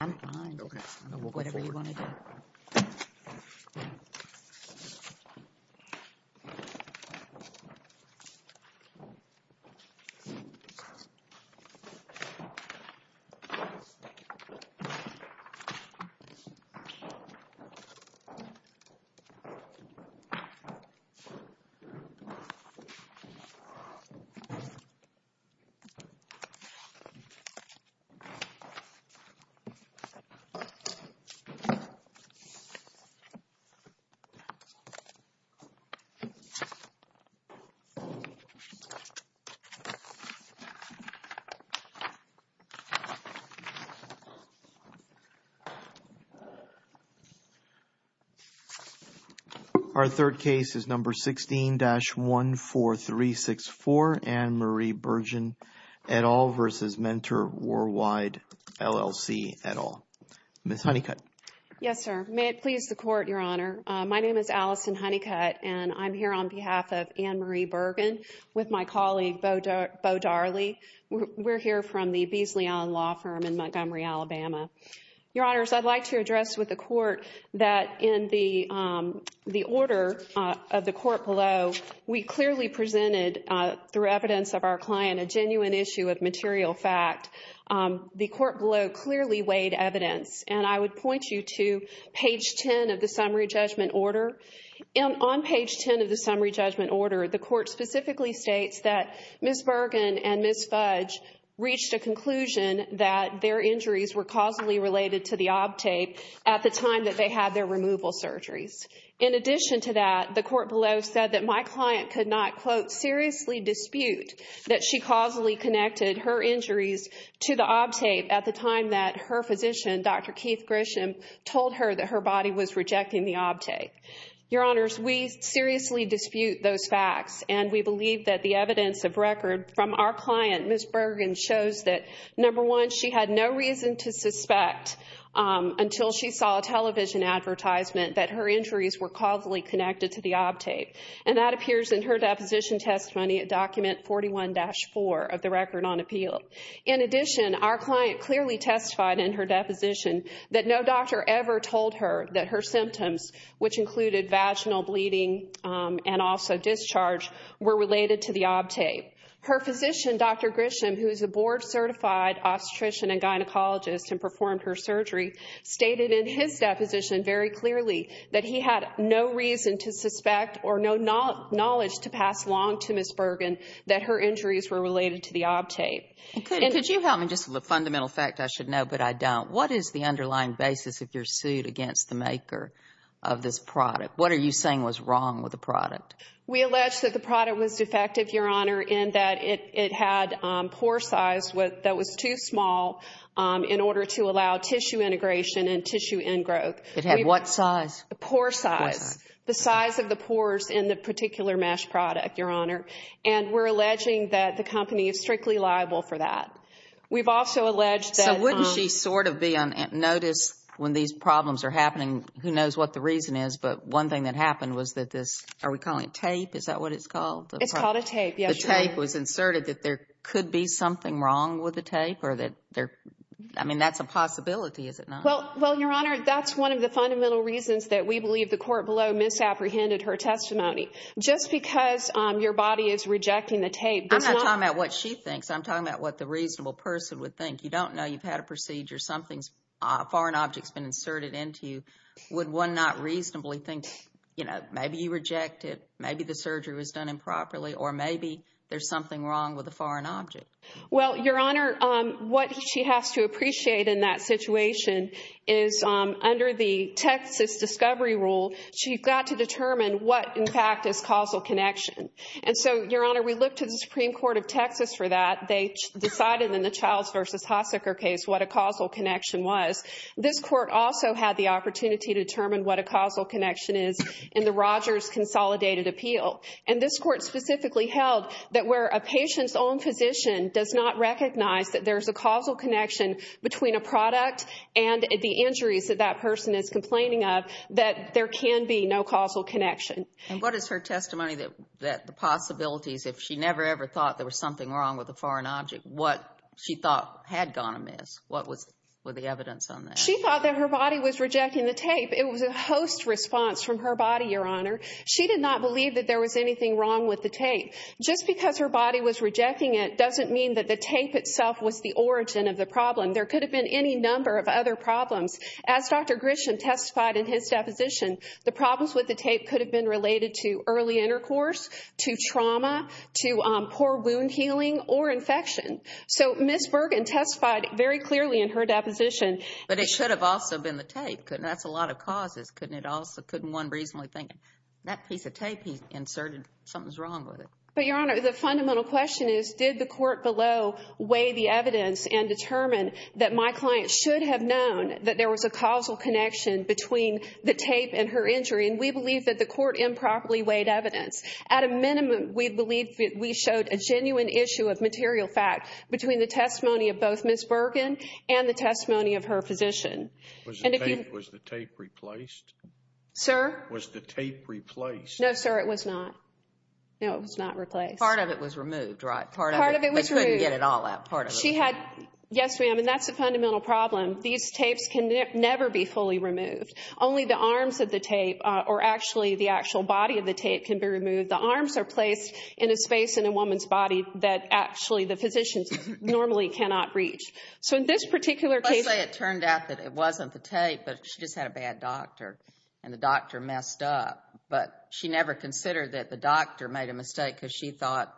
I'm fine, okay, whatever you want to do. Our third case is number 16-14364, Anne Marie Bergin et al. v. Mentor Worldwide LLC et al. Ms. Honeycutt. Yes, sir. May it please the Court, Your Honor. My name is Allison Honeycutt, and I'm here on behalf of Anne Marie Bergin with my colleague Beau Darley. We're here from the Beasley Island Law Firm in Montgomery, Alabama. Your Honors, I'd like to address with the Court that in the order of the Court below, we clearly presented, through evidence of our client, a genuine issue of material fact. The Court below clearly weighed evidence, and I would point you to page 10 of the Summary Judgment Order. And on page 10 of the Summary Judgment Order, the Court specifically states that Ms. Bergin and Ms. Fudge reached a conclusion that their injuries were causally related to the OB tape at the time that they had their removal surgeries. In addition to that, the Court below said that my client could not, quote, seriously dispute that she causally connected her injuries to the OB tape at the time that her physician, Dr. Keith Grisham, told her that her body was rejecting the OB tape. Your Honors, we seriously dispute those facts, and we believe that the evidence of record from our client, Ms. Bergin, shows that, number one, she had no reason to suspect until she saw a television advertisement that her injuries were causally connected to the OB tape. And that appears in her deposition testimony at Document 41-4 of the Record on Appeal. In addition, our client clearly testified in her deposition that no doctor ever told her that her symptoms, which included vaginal bleeding and also discharge, were related to the OB tape. Her physician, Dr. Grisham, who is a board-certified obstetrician and gynecologist and performed her surgery, stated in his deposition very clearly that he had no reason to suspect or no knowledge to pass along to Ms. Bergin that her injuries were related to the OB tape. And could you help me just with a fundamental fact I should know, but I don't. What is the underlying basis of your suit against the maker of this product? What are you saying was wrong with the product? We allege that the product was defective, Your Honor, in that it had pore size that was too small in order to allow tissue integration and tissue in-growth. It had what size? Pore size. The size of the pores in the particular mesh product, Your Honor. And we're alleging that the company is strictly liable for that. We've also alleged that... So wouldn't she sort of be on notice when these problems are happening? Who knows what the reason is, but one thing that happened was that this, are we calling it tape? Is that what it's called? It's called a tape, yes. The tape was inserted that there could be something wrong with the tape or that there, I mean, that's a possibility, is it not? Well, Your Honor, that's one of the fundamental reasons that we believe the court below misapprehended her testimony. Just because your body is rejecting the tape does not... I'm not talking about what she thinks. I'm talking about what the reasonable person would think. You don't know you've had a procedure, something's, a foreign object's been inserted into you. Would one not reasonably think, you know, maybe you reject it, maybe the surgery was done improperly, or maybe there's something wrong with a foreign object? Well, Your Honor, what she has to appreciate in that situation is under the Texas discovery rule, she's got to determine what, in fact, is causal connection. And so, Your Honor, we looked to the Supreme Court of Texas for that. They decided in the Childs v. Haseker case what a causal connection was. This court also had the opportunity to determine what a causal connection is in the Rogers consolidated appeal. And this court specifically held that where a patient's own physician does not recognize that there's a causal connection between a product and the injuries that that person is complaining of, that there can be no causal connection. And what is her testimony that the possibilities, if she never, ever thought there was something wrong with a foreign object, what she thought had gone amiss? What was the evidence on that? She thought that her body was rejecting the tape. It was a host response from her body, Your Honor. She did not believe that there was anything wrong with the tape. Just because her body was rejecting it doesn't mean that the tape itself was the origin of the problem. There could have been any number of other problems. As Dr. Grisham testified in his deposition, the problems with the tape could have been related to early intercourse, to trauma, to poor wound healing, or infection. So, Ms. Bergen testified very clearly in her deposition. But it should have also been the tape. That's a lot of causes. Couldn't one reasonably think, that piece of tape he inserted, something's wrong with it? But, Your Honor, the fundamental question is, did the court below weigh the evidence and determine that my client should have known that there was a causal connection between the tape and her injury? And we believe that the court improperly weighed evidence. At a minimum, we believe that we showed a genuine issue of material fact between the testimony of both Ms. Bergen and the testimony of her physician. Was the tape replaced? Sir? Was the tape replaced? No, sir, it was not. No, it was not replaced. Part of it was removed, right? Part of it was removed. I couldn't get it all out. Part of it was removed. Yes, ma'am. And that's the fundamental problem. These tapes can never be fully removed. Only the arms of the tape, or actually the actual body of the tape, can be removed. The arms are placed in a space in a woman's body that actually the physicians normally cannot reach. So, in this particular case— It wasn't the tape, but she just had a bad doctor, and the doctor messed up. But she never considered that the doctor made a mistake because she thought,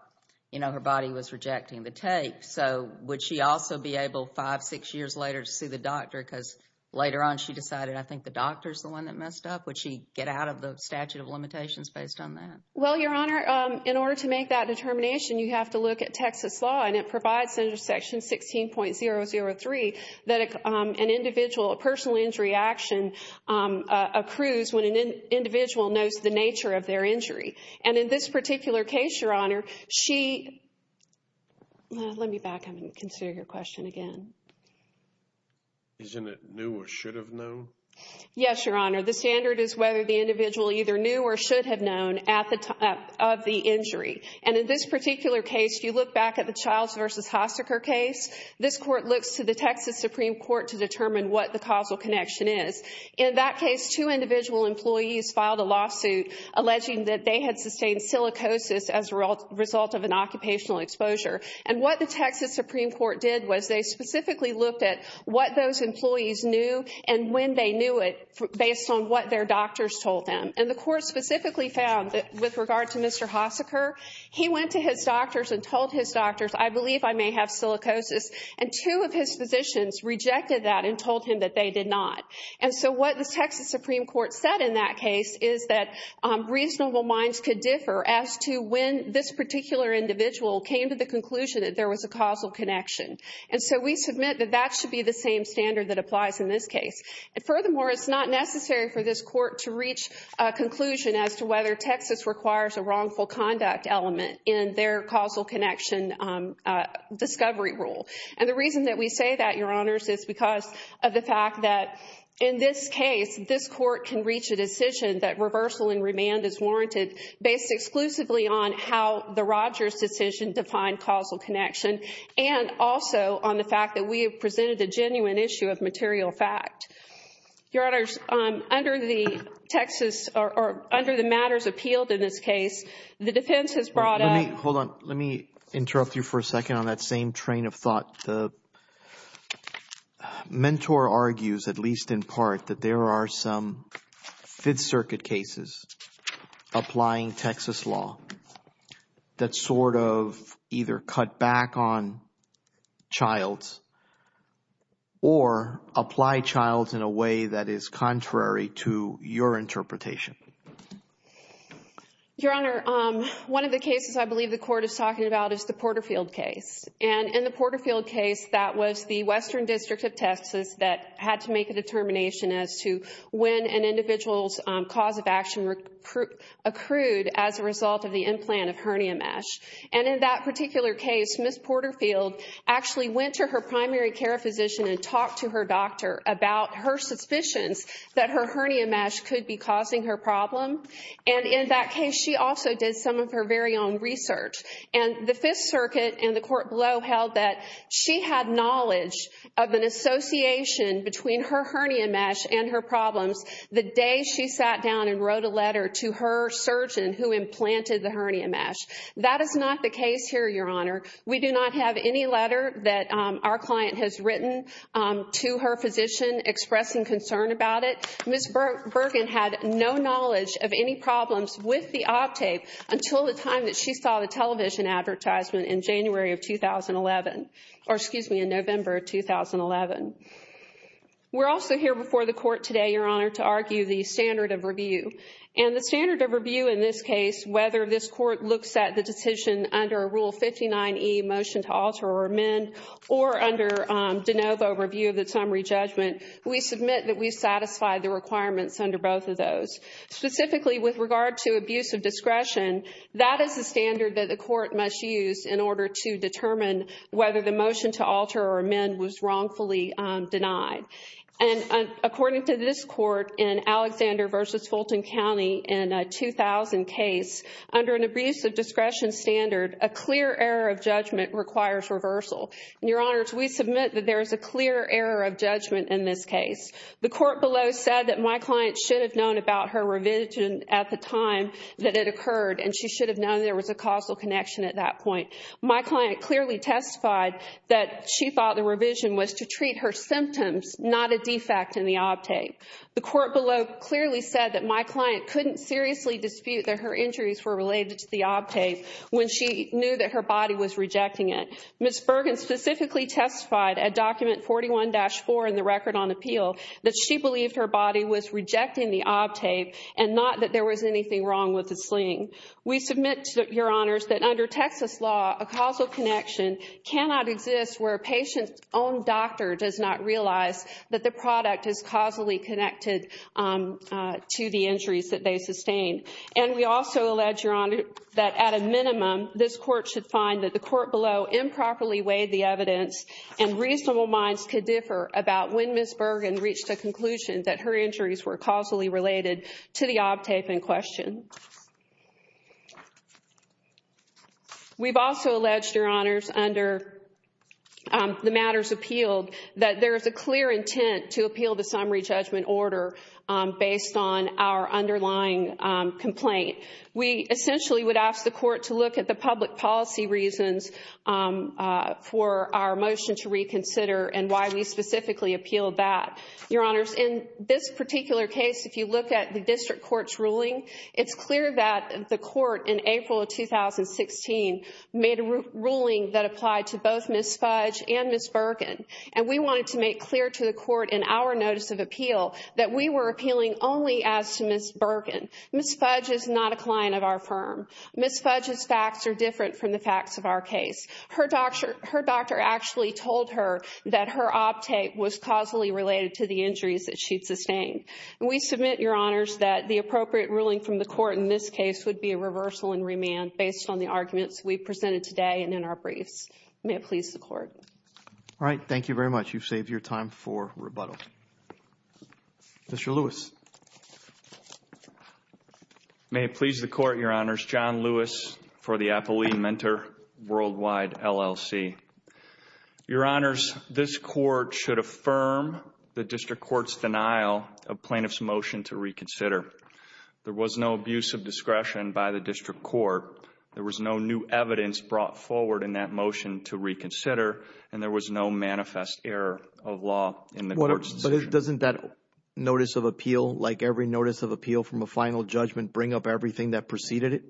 you know, her body was rejecting the tape. So, would she also be able, five, six years later, to see the doctor because later on she decided, I think the doctor's the one that messed up? Would she get out of the statute of limitations based on that? Well, Your Honor, in order to make that determination, you have to look at Texas law, and it provides under Section 16.003 that an individual, a personal injury action, accrues when an individual knows the nature of their injury. And in this particular case, Your Honor, she—let me back up and consider your question again. Isn't it knew or should have known? Yes, Your Honor. The standard is whether the individual either knew or should have known at the time of the injury. And in this particular case, if you look back at the Childs v. Hosaker case, this Court looks to the Texas Supreme Court to determine what the causal connection is. In that case, two individual employees filed a lawsuit alleging that they had sustained silicosis as a result of an occupational exposure. And what the Texas Supreme Court did was they specifically looked at what those employees knew and when they knew it based on what their doctors told them. And the Court specifically found that with regard to Mr. Hosaker, he went to his doctors and told his doctors, I believe I may have silicosis. And two of his physicians rejected that and told him that they did not. And so what the Texas Supreme Court said in that case is that reasonable minds could differ as to when this particular individual came to the conclusion that there was a causal connection. And so we submit that that should be the same standard that applies in this case. And furthermore, it's not necessary for this Court to reach a conclusion as to whether Texas requires a wrongful conduct element in their causal connection discovery rule. And the reason that we say that, Your Honors, is because of the fact that in this case, this Court can reach a decision that reversal and remand is warranted based exclusively on how the Rogers decision defined causal connection and also on the fact that we have presented the genuine issue of material fact. Your Honors, under the Texas, or under the matters appealed in this case, the defense has brought up... Hold on. Let me interrupt you for a second on that same train of thought. The mentor argues, at least in part, that there are some Fifth Circuit cases applying Texas law that sort of either cut back on childs or apply childs in a way that is contrary to your interpretation. Your Honor, one of the cases I believe the Court is talking about is the Porterfield case. And in the Porterfield case, that was the Western District of Texas that had to make a determination as to when an individual's cause of action accrued as a result of the implant of hernia mesh. And in that particular case, Miss Porterfield actually went to her primary care physician and talked to her doctor about her suspicions that her hernia mesh could be causing her problem. And in that case, she also did some of her very own research. And the Fifth Circuit and the Court below held that she had knowledge of an association between her hernia mesh and her problems the day she sat down and wrote a letter to her surgeon who implanted the hernia mesh. That is not the case here, Your Honor. We do not have any letter that our client has written to her physician expressing concern about it. Ms. Bergen had no knowledge of any problems with the Optape until the time that she saw the television advertisement in January of 2011. Or excuse me, in November of 2011. We're also here before the Court today, Your Honor, to argue the standard of review. And the standard of review in this case, whether this Court looks at the decision under Rule 59E, Motion to Alter or Amend, or under De Novo, Review of the Summary Judgment, we submit that we satisfy the requirements under both of those. Specifically, with regard to abuse of discretion, that is the standard that the Court must use in order to determine whether the Motion to Alter or Amend was wrongfully denied. And according to this Court in Alexander v. Fulton County in a 2000 case, under an abuse of discretion standard, a clear error of judgment requires reversal. And Your Honors, we submit that there is a clear error of judgment in this case. The Court below said that my client should have known about her revision at the time that it occurred and she should have known there was a causal connection at that point. My client clearly testified that she thought the revision was to treat her symptoms, not a defect in the Optape. The Court below clearly said that my client couldn't seriously dispute that her injuries were related to the Optape when she knew that her body was rejecting it. Ms. Bergen specifically testified at Document 41-4 in the Record on Appeal that she believed her body was rejecting the Optape and not that there was anything wrong with the sling. We submit, Your Honors, that under Texas law, a causal connection cannot exist where a patient's own doctor does not realize that the product is causally connected to the injuries that they sustained. And we also allege, Your Honor, that at a minimum, this Court should find that the Court below improperly weighed the evidence and reasonable minds could differ about when Ms. Bergen reached the conclusion that her injuries were causally related to the Optape in question. We've also alleged, Your Honors, under the matters appealed that there is a clear intent to appeal the summary judgment order based on our underlying complaint. We essentially would ask the Court to look at the public policy reasons for our motion to reconsider and why we specifically appeal that. Your Honors, in this particular case, if you look at the District Court's ruling, it's clear that the Court in April of 2016 made a ruling that applied to both Ms. Fudge and Ms. Bergen. And we wanted to make clear to the Court in our notice of appeal that we were appealing only as to Ms. Bergen. Ms. Fudge is not a client of our firm. Ms. Fudge's facts are different from the facts of our case. Her doctor actually told her that her Optape was causally related to the injuries that she'd sustained. We submit, Your Honors, that the appropriate ruling from the Court in this case would be a reversal and remand based on the arguments we presented today and in our briefs. May it please the Court. All right. Thank you very much. You've saved your time for rebuttal. Mr. Lewis. May it please the Court, Your Honors. John Lewis for the Applebee Mentor Worldwide LLC. Your Honors, this Court should affirm the District Court's denial of plaintiff's motion to reconsider. There was no abuse of discretion by the District Court. There was no new evidence brought forward in that motion to reconsider and there was no manifest error of law in the Court's decision. But doesn't that notice of appeal, like every notice of appeal from a final judgment, bring up everything that preceded it?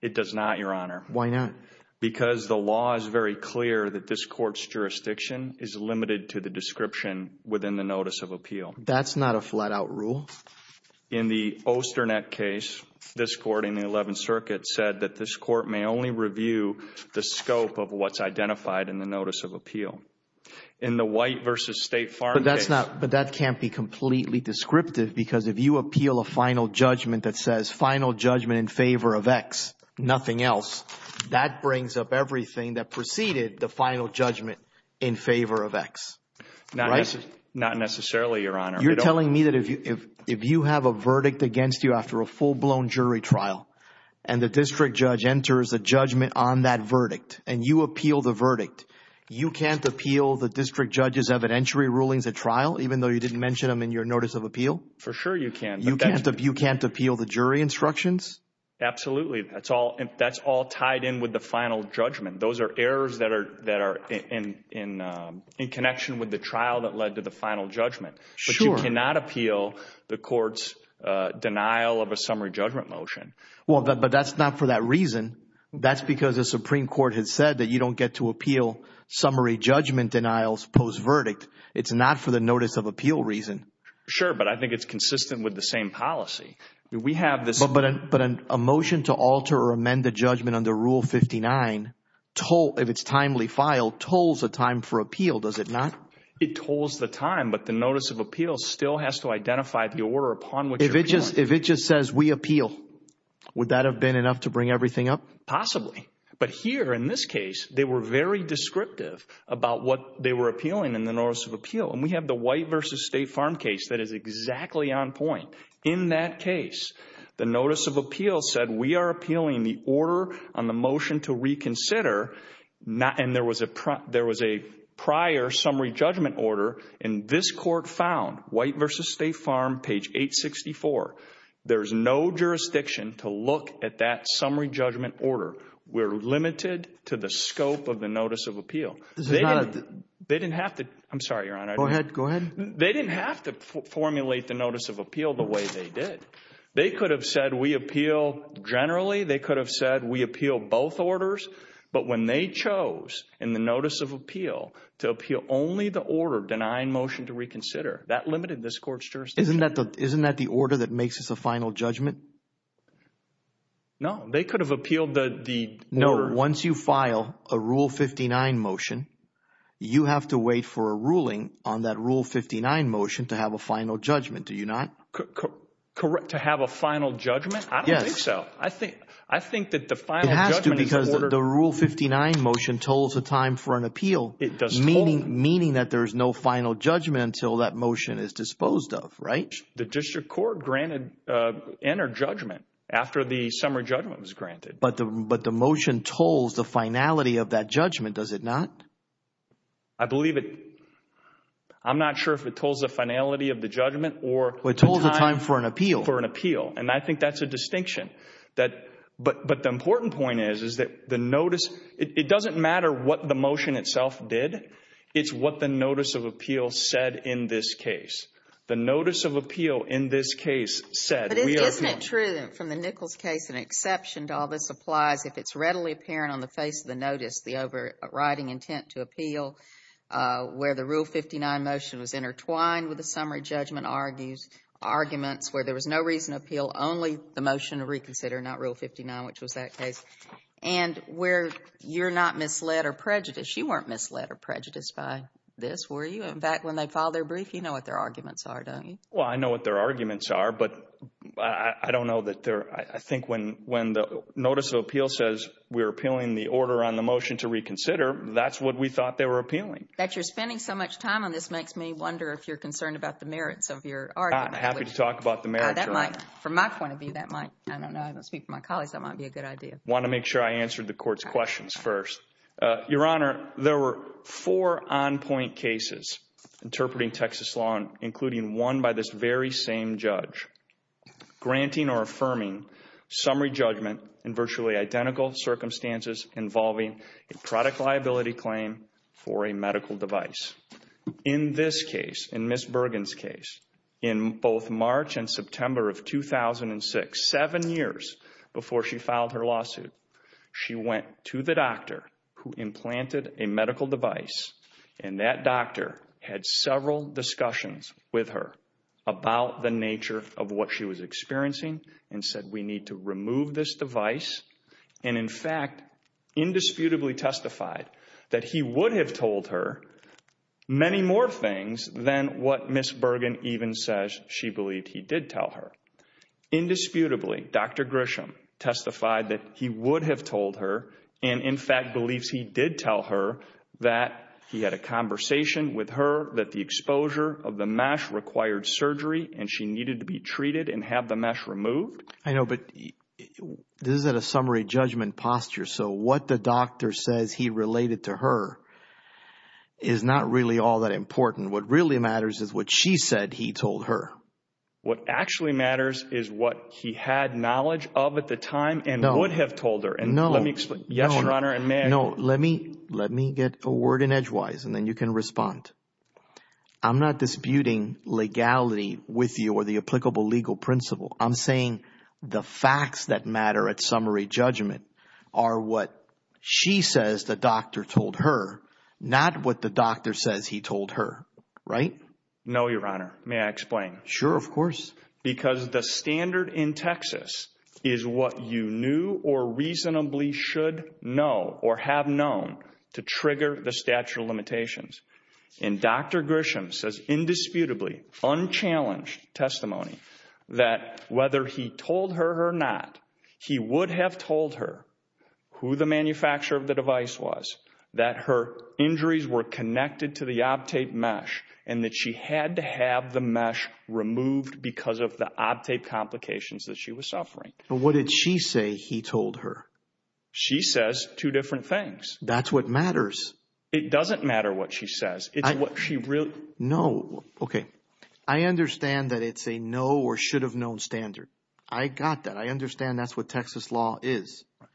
It does not, Your Honor. Why not? Because the law is very clear that this Court's jurisdiction is limited to the description within the notice of appeal. That's not a flat-out rule. In the Osternett case, this Court in the Eleventh Circuit said that this Court may only review the scope of what's identified in the notice of appeal. In the White v. State Farm case. But that can't be completely descriptive because if you appeal a final judgment that says final judgment in favor of X, nothing else, that brings up everything that preceded the final judgment in favor of X. Not necessarily, Your Honor. You're telling me that if you have a verdict against you after a full-blown jury trial and you appeal the verdict, you can't appeal the district judge's evidentiary rulings at trial even though you didn't mention them in your notice of appeal? For sure you can. You can't appeal the jury instructions? Absolutely. That's all tied in with the final judgment. Those are errors that are in connection with the trial that led to the final judgment. But you cannot appeal the Court's denial of a summary judgment motion. But that's not for that reason. That's because the Supreme Court has said that you don't get to appeal summary judgment denials post-verdict. It's not for the notice of appeal reason. Sure, but I think it's consistent with the same policy. But a motion to alter or amend the judgment under Rule 59, if it's timely filed, tolls the time for appeal, does it not? It tolls the time, but the notice of appeal still has to identify the order upon which you're appealing. If it just says we appeal, would that have been enough to bring everything up? Possibly. But here, in this case, they were very descriptive about what they were appealing in the notice of appeal. And we have the White v. State Farm case that is exactly on point. In that case, the notice of appeal said we are appealing the order on the motion to reconsider, and there was a prior summary judgment order, and this Court found, White v. State Farm, page 864, there's no jurisdiction to look at that summary judgment order. We're limited to the scope of the notice of appeal. They didn't have to. I'm sorry, Your Honor. Go ahead. They didn't have to formulate the notice of appeal the way they did. They could have said we appeal generally. They could have said we appeal both orders. But when they chose in the notice of appeal to appeal only the order denying motion to reconsider, that limited this Court's jurisdiction. Isn't that the order that makes us a final judgment? No. They could have appealed the order. Once you file a Rule 59 motion, you have to wait for a ruling on that Rule 59 motion to have a final judgment, do you not? To have a final judgment? Yes. I don't think so. I think that the final judgment is ordered. It has to because the Rule 59 motion tolls a time for an appeal, meaning that there is no final judgment until that motion is disposed of, right? The District Court granted inner judgment after the summary judgment was granted. But the motion tolls the finality of that judgment, does it not? I believe it. I'm not sure if it tolls the finality of the judgment or the time for an appeal. And I think that's a distinction. But the important point is, is that the notice, it doesn't matter what the motion itself did, it's what the notice of appeal said in this case. The notice of appeal in this case said, But isn't it true that from the Nichols case an exception to all this applies if it's readily apparent on the face of the notice the overriding intent to appeal, where the Rule 59 motion was intertwined with the summary judgment arguments, where there was no reason to appeal, only the motion to reconsider, not Rule 59, which was that case, and where you're not misled or prejudiced. You weren't misled or prejudiced by this, were you? In fact, when they filed their brief, you know what their arguments are, don't you? Well, I know what their arguments are, but I don't know that they're, I think when the notice of appeal says we're appealing the order on the motion to reconsider, that's what we thought they were appealing. But you're spending so much time on this, it just makes me wonder if you're concerned about the merits of your argument. I'm happy to talk about the merits, Your Honor. That might, from my point of view, that might, I don't know, I don't speak for my colleagues, that might be a good idea. I want to make sure I answer the Court's questions first. Your Honor, there were four on-point cases interpreting Texas law, including one by this very same judge, granting or affirming summary judgment in virtually identical circumstances involving a product liability claim for a medical device. In this case, in Ms. Bergen's case, in both March and September of 2006, seven years before she filed her lawsuit, she went to the doctor who implanted a medical device, and that doctor had several discussions with her about the nature of what she was experiencing and said we need to remove this device, and in fact, indisputably testified that he would have told her many more things than what Ms. Bergen even says she believed he did tell her. Indisputably, Dr. Grisham testified that he would have told her, and in fact believes he did tell her that he had a conversation with her that the exposure of the mesh required surgery and she needed to be treated and have the mesh removed. I know, but this is at a summary judgment posture, so what the doctor says he related to her is not really all that important. What really matters is what she said he told her. What actually matters is what he had knowledge of at the time and would have told her. No. Yes, Your Honor, and may I? No, let me get a word in edgewise, and then you can respond. I'm not disputing legality with you or the applicable legal principle. I'm saying the facts that matter at summary judgment are what she says the doctor told her, not what the doctor says he told her, right? No, Your Honor. May I explain? Sure, of course. Because the standard in Texas is what you knew or reasonably should know or have known to trigger the statute of limitations, and Dr. Grisham says indisputably, unchallenged testimony, that whether he told her or not, he would have told her who the manufacturer of the device was, that her injuries were connected to the Optape mesh, and that she had to have the mesh removed because of the Optape complications that she was suffering. But what did she say he told her? She says two different things. That's what matters. It doesn't matter what she says. It's what she really – No. Okay. I understand that it's a no or should have known standard. I got that. I understand that's what Texas law is. Right.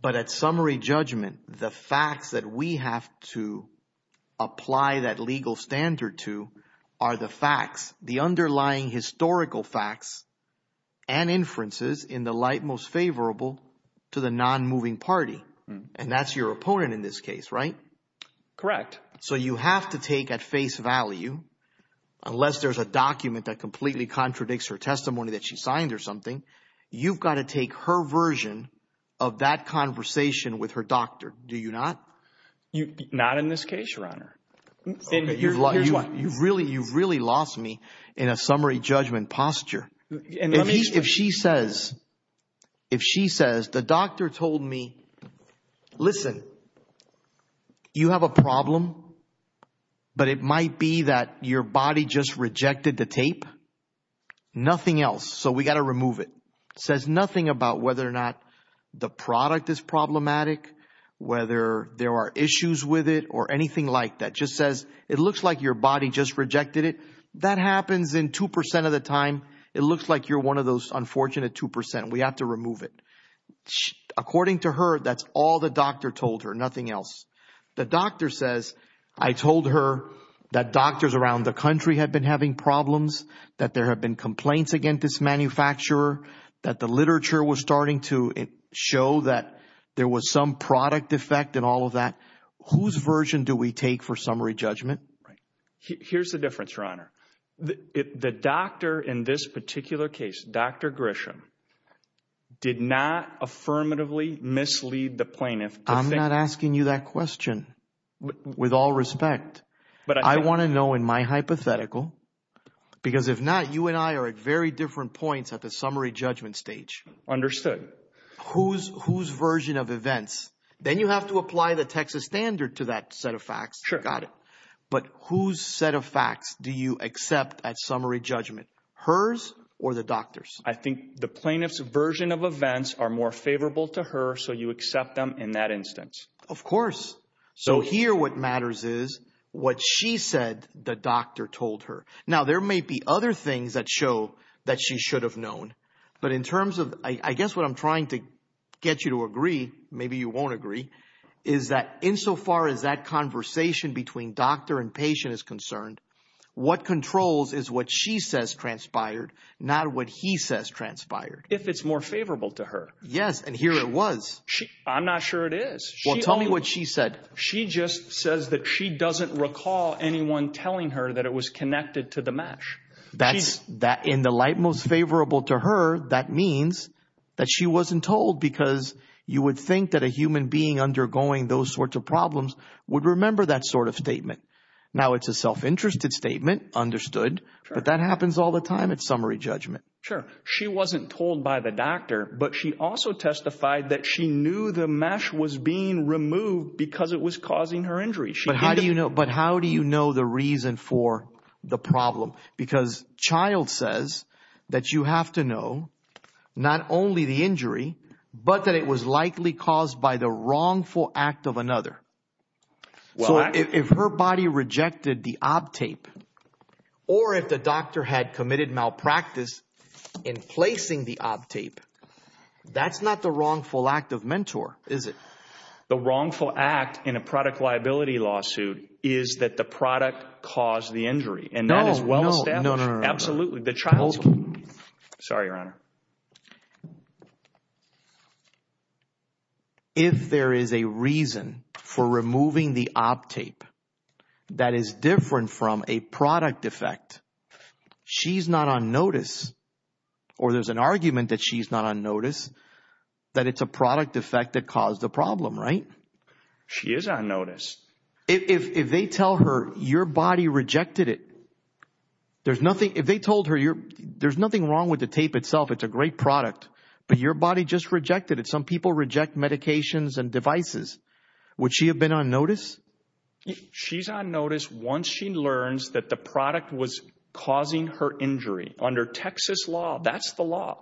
But at summary judgment, the facts that we have to apply that legal standard to are the facts, the underlying historical facts and inferences in the light most favorable to the nonmoving party, and that's your opponent in this case, right? Correct. So you have to take at face value, unless there's a document that completely contradicts her testimony that she signed or something, you've got to take her version of that conversation with her doctor, do you not? Not in this case, Your Honor. You've really lost me in a summary judgment posture. If she says the doctor told me, listen, you have a problem, but it might be that your body just rejected the tape, nothing else, so we've got to remove it. It says nothing about whether or not the product is problematic, whether there are issues with it or anything like that. It just says it looks like your body just rejected it. That happens in 2% of the time. It looks like you're one of those unfortunate 2%. We have to remove it. According to her, that's all the doctor told her, nothing else. The doctor says, I told her that doctors around the country had been having problems, that there had been complaints against this manufacturer, that the literature was starting to show that there was some product defect and all of that. Whose version do we take for summary judgment? Here's the difference, Your Honor. The doctor in this particular case, Dr. Grisham, did not affirmatively mislead the plaintiff. I'm not asking you that question, with all respect. I want to know in my hypothetical, because if not, you and I are at very different points at the summary judgment stage. Understood. Whose version of events? Got it. But whose set of facts do you accept at summary judgment? Hers or the doctor's? I think the plaintiff's version of events are more favorable to her, so you accept them in that instance. Of course. So here what matters is what she said the doctor told her. Now, there may be other things that show that she should have known. But in terms of, I guess what I'm trying to get you to agree, maybe you won't agree, is that insofar as that conversation between doctor and patient is concerned, what controls is what she says transpired, not what he says transpired. If it's more favorable to her. Yes, and here it was. I'm not sure it is. Well, tell me what she said. She just says that she doesn't recall anyone telling her that it was connected to the mesh. In the light most favorable to her, that means that she wasn't told, because you would think that a human being undergoing those sorts of problems would remember that sort of statement. Now, it's a self-interested statement, understood, but that happens all the time at summary judgment. Sure. She wasn't told by the doctor, but she also testified that she knew the mesh was being removed because it was causing her injury. But how do you know the reason for the problem? Because child says that you have to know not only the injury, but that it was likely caused by the wrongful act of another. So if her body rejected the ob tape or if the doctor had committed malpractice in placing the ob tape, that's not the wrongful act of mentor, is it? The wrongful act in a product liability lawsuit is that the product caused the injury. And that is well established. No, no, no, no. Absolutely. The child. Sorry, Your Honor. If there is a reason for removing the ob tape that is different from a product defect, she's not on notice. Or there's an argument that she's not on notice, that it's a product defect that caused the problem, right? She is on notice. If they tell her your body rejected it, there's nothing if they told her you're there's nothing wrong with the tape itself. It's a great product. But your body just rejected it. Some people reject medications and devices. Would she have been on notice? She's on notice once she learns that the product was causing her injury under Texas law. That's the law.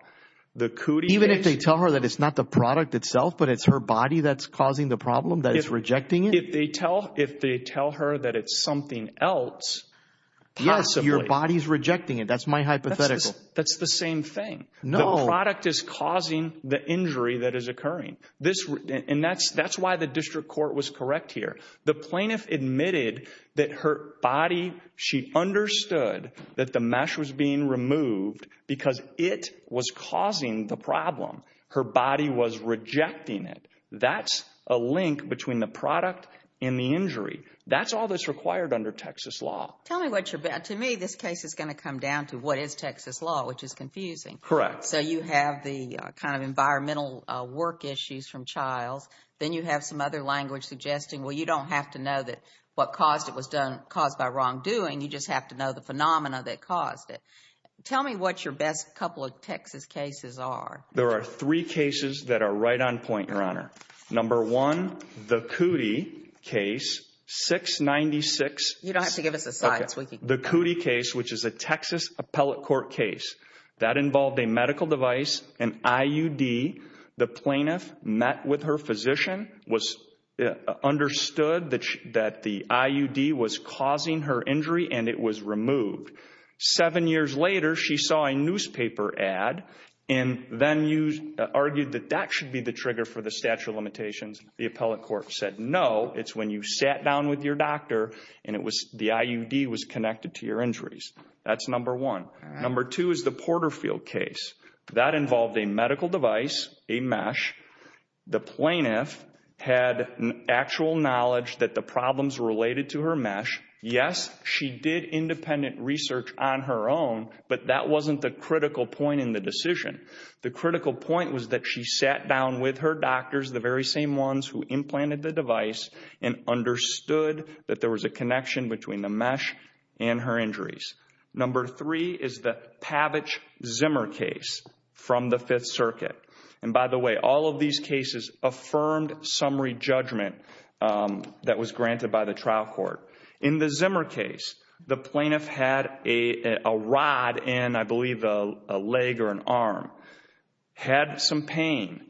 The cootie, even if they tell her that it's not the product itself, but it's her body that's causing the problem that is rejecting it. If they tell if they tell her that it's something else. Yes. Your body's rejecting it. That's my hypothetical. That's the same thing. No product is causing the injury that is occurring. This and that's that's why the district court was correct here. The plaintiff admitted that her body. She understood that the mesh was being removed because it was causing the problem. Her body was rejecting it. That's a link between the product and the injury. That's all that's required under Texas law. Tell me what you're bad to me. This case is going to come down to what is Texas law, which is confusing. Correct. So you have the kind of environmental work issues from child. Then you have some other language suggesting, well, you don't have to know that what caused it was done caused by wrongdoing. You just have to know the phenomena that caused it. Tell me what your best couple of Texas cases are. There are three cases that are right on point, Your Honor. Number one, the Kuti case, 696. You don't have to give us a sign. The Kuti case, which is a Texas appellate court case, that involved a medical device, an IUD. The plaintiff met with her physician, understood that the IUD was causing her injury, and it was removed. Seven years later, she saw a newspaper ad and then argued that that should be the trigger for the statute of limitations. The appellate court said, no, it's when you sat down with your doctor and the IUD was connected to your injuries. That's number one. Number two is the Porterfield case. That involved a medical device, a mesh. The plaintiff had actual knowledge that the problems related to her mesh. Yes, she did independent research on her own, but that wasn't the critical point in the decision. The critical point was that she sat down with her doctors, the very same ones who implanted the device, and understood that there was a connection between the mesh and her injuries. Number three is the Pavich-Zimmer case from the Fifth Circuit. And by the way, all of these cases affirmed summary judgment that was granted by the trial court. In the Zimmer case, the plaintiff had a rod in, I believe, a leg or an arm, had some pain.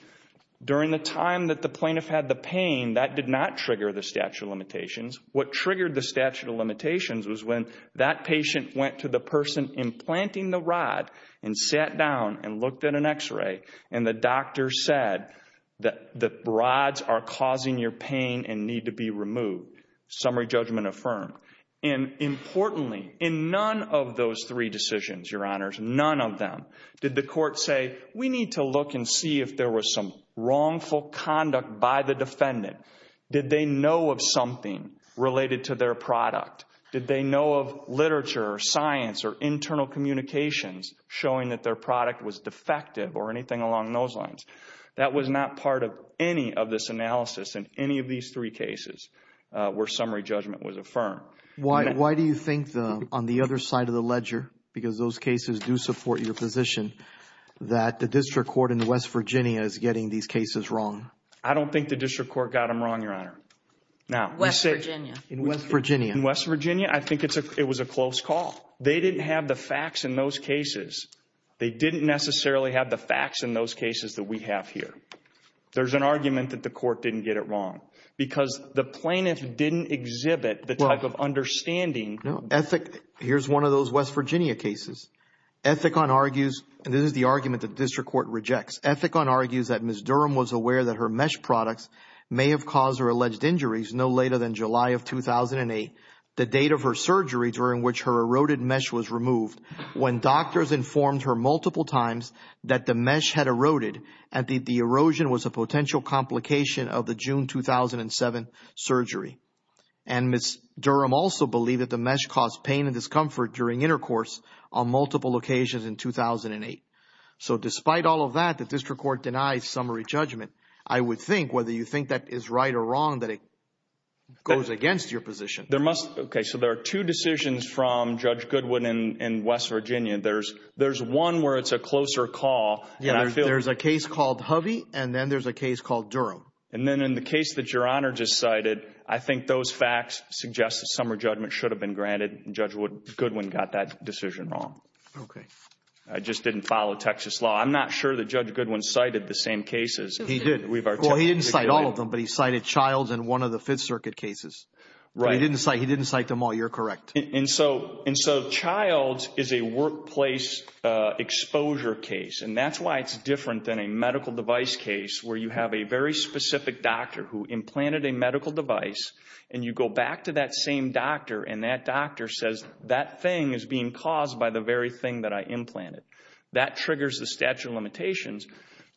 During the time that the plaintiff had the pain, that did not trigger the statute of limitations. What triggered the statute of limitations was when that patient went to the person implanting the rod and sat down and looked at an x-ray, and the doctor said that the rods are causing your pain and need to be removed. Summary judgment affirmed. And importantly, in none of those three decisions, Your Honors, none of them did the court say, we need to look and see if there was some wrongful conduct by the defendant. Did they know of something related to their product? Did they know of literature or science or internal communications showing that their product was defective or anything along those lines? That was not part of any of this analysis in any of these three cases where summary judgment was affirmed. Why do you think on the other side of the ledger, because those cases do support your position, that the district court in West Virginia is getting these cases wrong? I don't think the district court got them wrong, Your Honor. West Virginia? In West Virginia. In West Virginia, I think it was a close call. They didn't have the facts in those cases. They didn't necessarily have the facts in those cases that we have here. There's an argument that the court didn't get it wrong because the plaintiff didn't exhibit the type of understanding. No. Here's one of those West Virginia cases. Ethicon argues, and this is the argument that the district court rejects. Ethicon argues that Ms. Durham was aware that her mesh products may have caused her alleged injuries no later than July of 2008, the date of her surgery during which her eroded mesh was removed. When doctors informed her multiple times that the mesh had eroded and that the erosion was a potential complication of the June 2007 surgery. And Ms. Durham also believed that the mesh caused pain and discomfort during intercourse on multiple occasions in 2008. So despite all of that, the district court denies summary judgment. I would think, whether you think that is right or wrong, that it goes against your position. So there are two decisions from Judge Goodwin in West Virginia. There's one where it's a closer call. There's a case called Hovey and then there's a case called Durham. And then in the case that Your Honor just cited, I think those facts suggest that summary judgment should have been granted. Judge Goodwin got that decision wrong. I just didn't follow Texas law. I'm not sure that Judge Goodwin cited the same cases. He did. Well, he didn't cite all of them, but he cited Childs and one of the Fifth Circuit cases. Right. He didn't cite them all. You're correct. And so Childs is a workplace exposure case, and that's why it's different than a medical device case where you have a very specific doctor who implanted a medical device and you go back to that same doctor and that doctor says that thing is being caused by the very thing that I implanted. That triggers the statute of limitations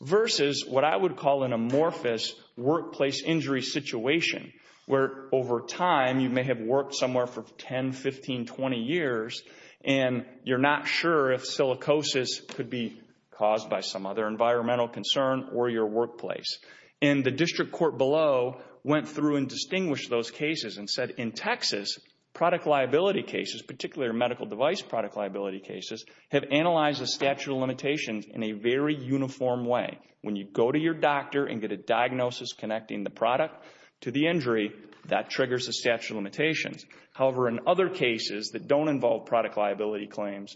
versus what I would call an amorphous workplace injury situation where over time you may have worked somewhere for 10, 15, 20 years and you're not sure if silicosis could be caused by some other environmental concern or your workplace. And the district court below went through and distinguished those cases and said in Texas, product liability cases, particularly medical device product liability cases, have analyzed the statute of limitations in a very uniform way. When you go to your doctor and get a diagnosis connecting the product to the injury, that triggers the statute of limitations. However, in other cases that don't involve product liability claims,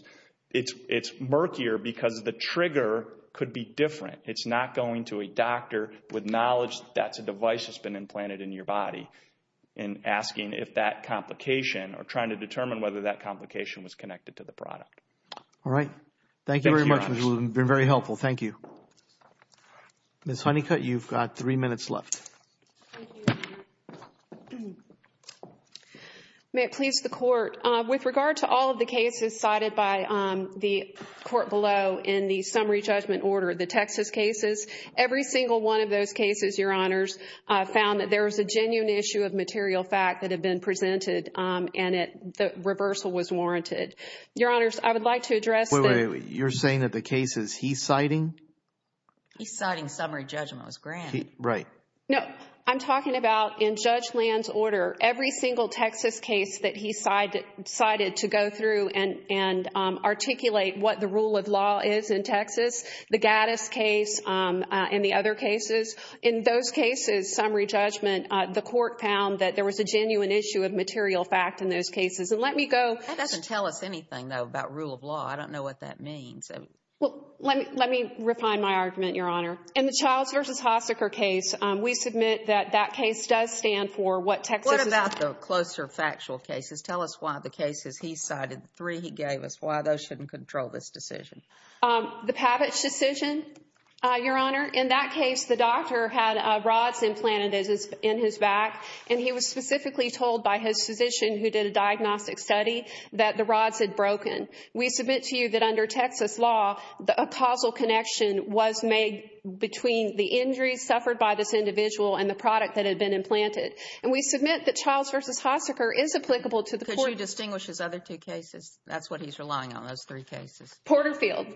it's murkier because the trigger could be different. It's not going to a doctor with knowledge that that's a device that's been implanted in your body and asking if that complication or trying to determine whether that complication was connected to the product. All right. Thank you very much. It's been very helpful. Thank you. Ms. Honeycutt, you've got three minutes left. May it please the court. With regard to all of the cases cited by the court below in the summary judgment order, the Texas cases, every single one of those cases, Your Honors, found that there was a genuine issue of material fact that had been presented and the reversal was warranted. Your Honors, I would like to address the— Wait, wait, wait. You're saying that the cases he's citing? He's citing summary judgment. It was granted. Right. No. I'm talking about in Judge Land's order, every single Texas case that he cited to go through and articulate what the rule of law is in Texas, the Gaddis case and the other cases. In those cases, summary judgment, the court found that there was a genuine issue of material fact in those cases. And let me go— That doesn't tell us anything, though, about rule of law. I don't know what that means. Well, let me refine my argument, Your Honor. In the Childs v. Haseker case, we submit that that case does stand for what Texas is— What about the closer factual cases? Tell us why the cases he cited, the three he gave us, why those shouldn't control this decision. The Pavich decision, Your Honor. In that case, the doctor had rods implanted in his back, and he was specifically told by his physician, who did a diagnostic study, that the rods had broken. We submit to you that under Texas law, a causal connection was made between the injuries suffered by this individual and the product that had been implanted. And we submit that Childs v. Haseker is applicable to the court— Could you distinguish his other two cases? That's what he's relying on, those three cases. Porterfield.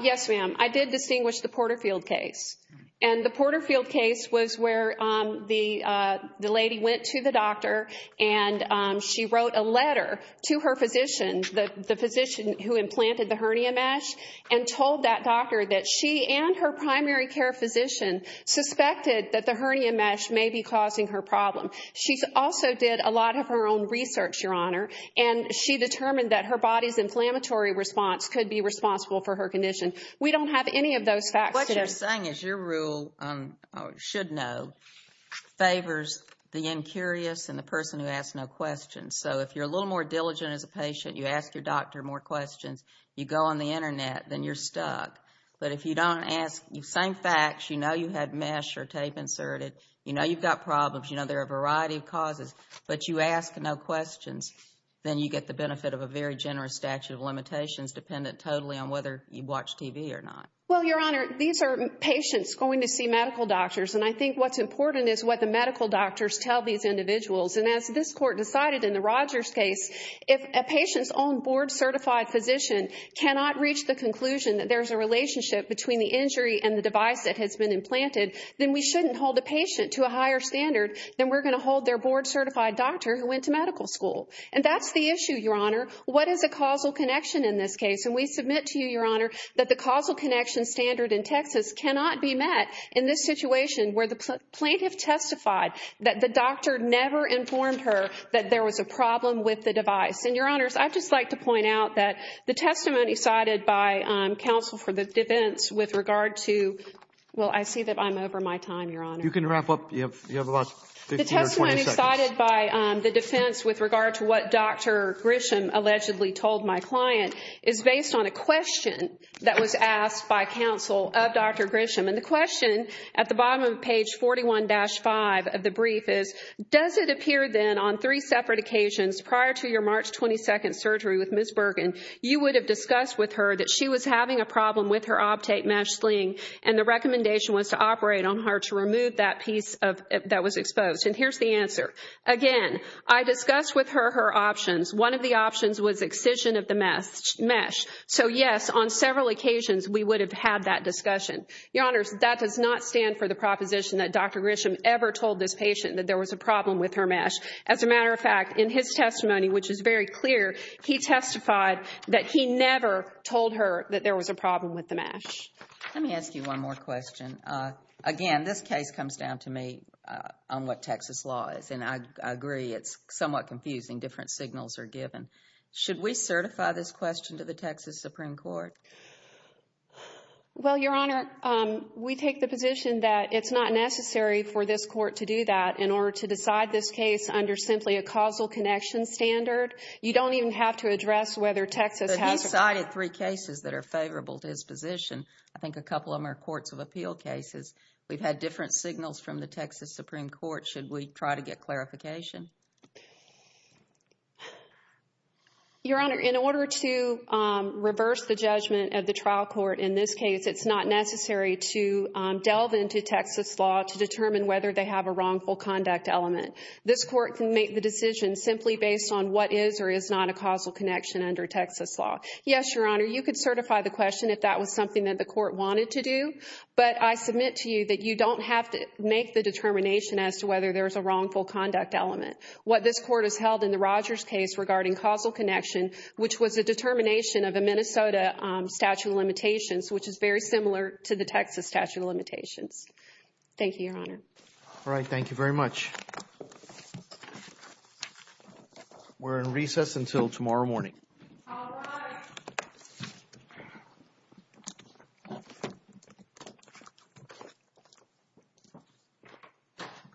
Yes, ma'am. I did distinguish the Porterfield case. And the Porterfield case was where the lady went to the doctor, and she wrote a letter to her physician, the physician who implanted the hernia mesh, and told that doctor that she and her primary care physician suspected that the hernia mesh may be causing her problem. She also did a lot of her own research, Your Honor, and she determined that her body's inflammatory response could be responsible for her condition. We don't have any of those facts. What you're saying is your rule, should know, favors the incurious and the person who asks no questions. So if you're a little more diligent as a patient, you ask your doctor more questions, you go on the Internet, then you're stuck. But if you don't ask, same facts, you know you had mesh or tape inserted, you know you've got problems, you know there are a variety of causes, but you ask no questions, then you get the benefit of a very generous statute of limitations dependent totally on whether you watch TV or not. Well, Your Honor, these are patients going to see medical doctors, and I think what's important is what the medical doctors tell these individuals. And as this court decided in the Rogers case, if a patient's own board-certified physician cannot reach the conclusion that there's a relationship between the injury and the device that has been implanted, then we shouldn't hold a patient to a higher standard than we're going to hold their board-certified doctor who went to medical school. And that's the issue, Your Honor. What is a causal connection in this case? And we submit to you, Your Honor, that the causal connection standard in Texas cannot be met in this situation where the plaintiff testified that the doctor never informed her that there was a problem with the device. And, Your Honors, I'd just like to point out that the testimony cited by counsel for the defense with regard to— well, I see that I'm over my time, Your Honor. You can wrap up. You have about 15 or 20 seconds. The testimony cited by the defense with regard to what Dr. Grisham allegedly told my client is based on a question that was asked by counsel of Dr. Grisham. And the question at the bottom of page 41-5 of the brief is, does it appear then on three separate occasions prior to your March 22nd surgery with Ms. Bergen, you would have discussed with her that she was having a problem with her Optate mesh sling and the recommendation was to operate on her to remove that piece that was exposed? And here's the answer. Again, I discussed with her her options. One of the options was excision of the mesh. So, yes, on several occasions we would have had that discussion. Your Honors, that does not stand for the proposition that Dr. Grisham ever told this patient that there was a problem with her mesh. As a matter of fact, in his testimony, which is very clear, he testified that he never told her that there was a problem with the mesh. Let me ask you one more question. Again, this case comes down to me on what Texas law is. And I agree it's somewhat confusing. Different signals are given. Should we certify this question to the Texas Supreme Court? Well, Your Honor, we take the position that it's not necessary for this court to do that in order to decide this case under simply a causal connection standard. You don't even have to address whether Texas has a… But he cited three cases that are favorable to his position. I think a couple of them are courts of appeal cases. We've had different signals from the Texas Supreme Court. Should we try to get clarification? Your Honor, in order to reverse the judgment of the trial court in this case, it's not necessary to delve into Texas law to determine whether they have a wrongful conduct element. This court can make the decision simply based on what is or is not a causal connection under Texas law. Yes, Your Honor, you could certify the question if that was something that the court wanted to do. But I submit to you that you don't have to make the determination as to whether there's a wrongful conduct element. What this court has held in the Rogers case regarding causal connection, which was a determination of a Minnesota statute of limitations, which is very similar to the Texas statute of limitations. Thank you, Your Honor. All right. Thank you very much. We're in recess until tomorrow morning. All rise. Thank you.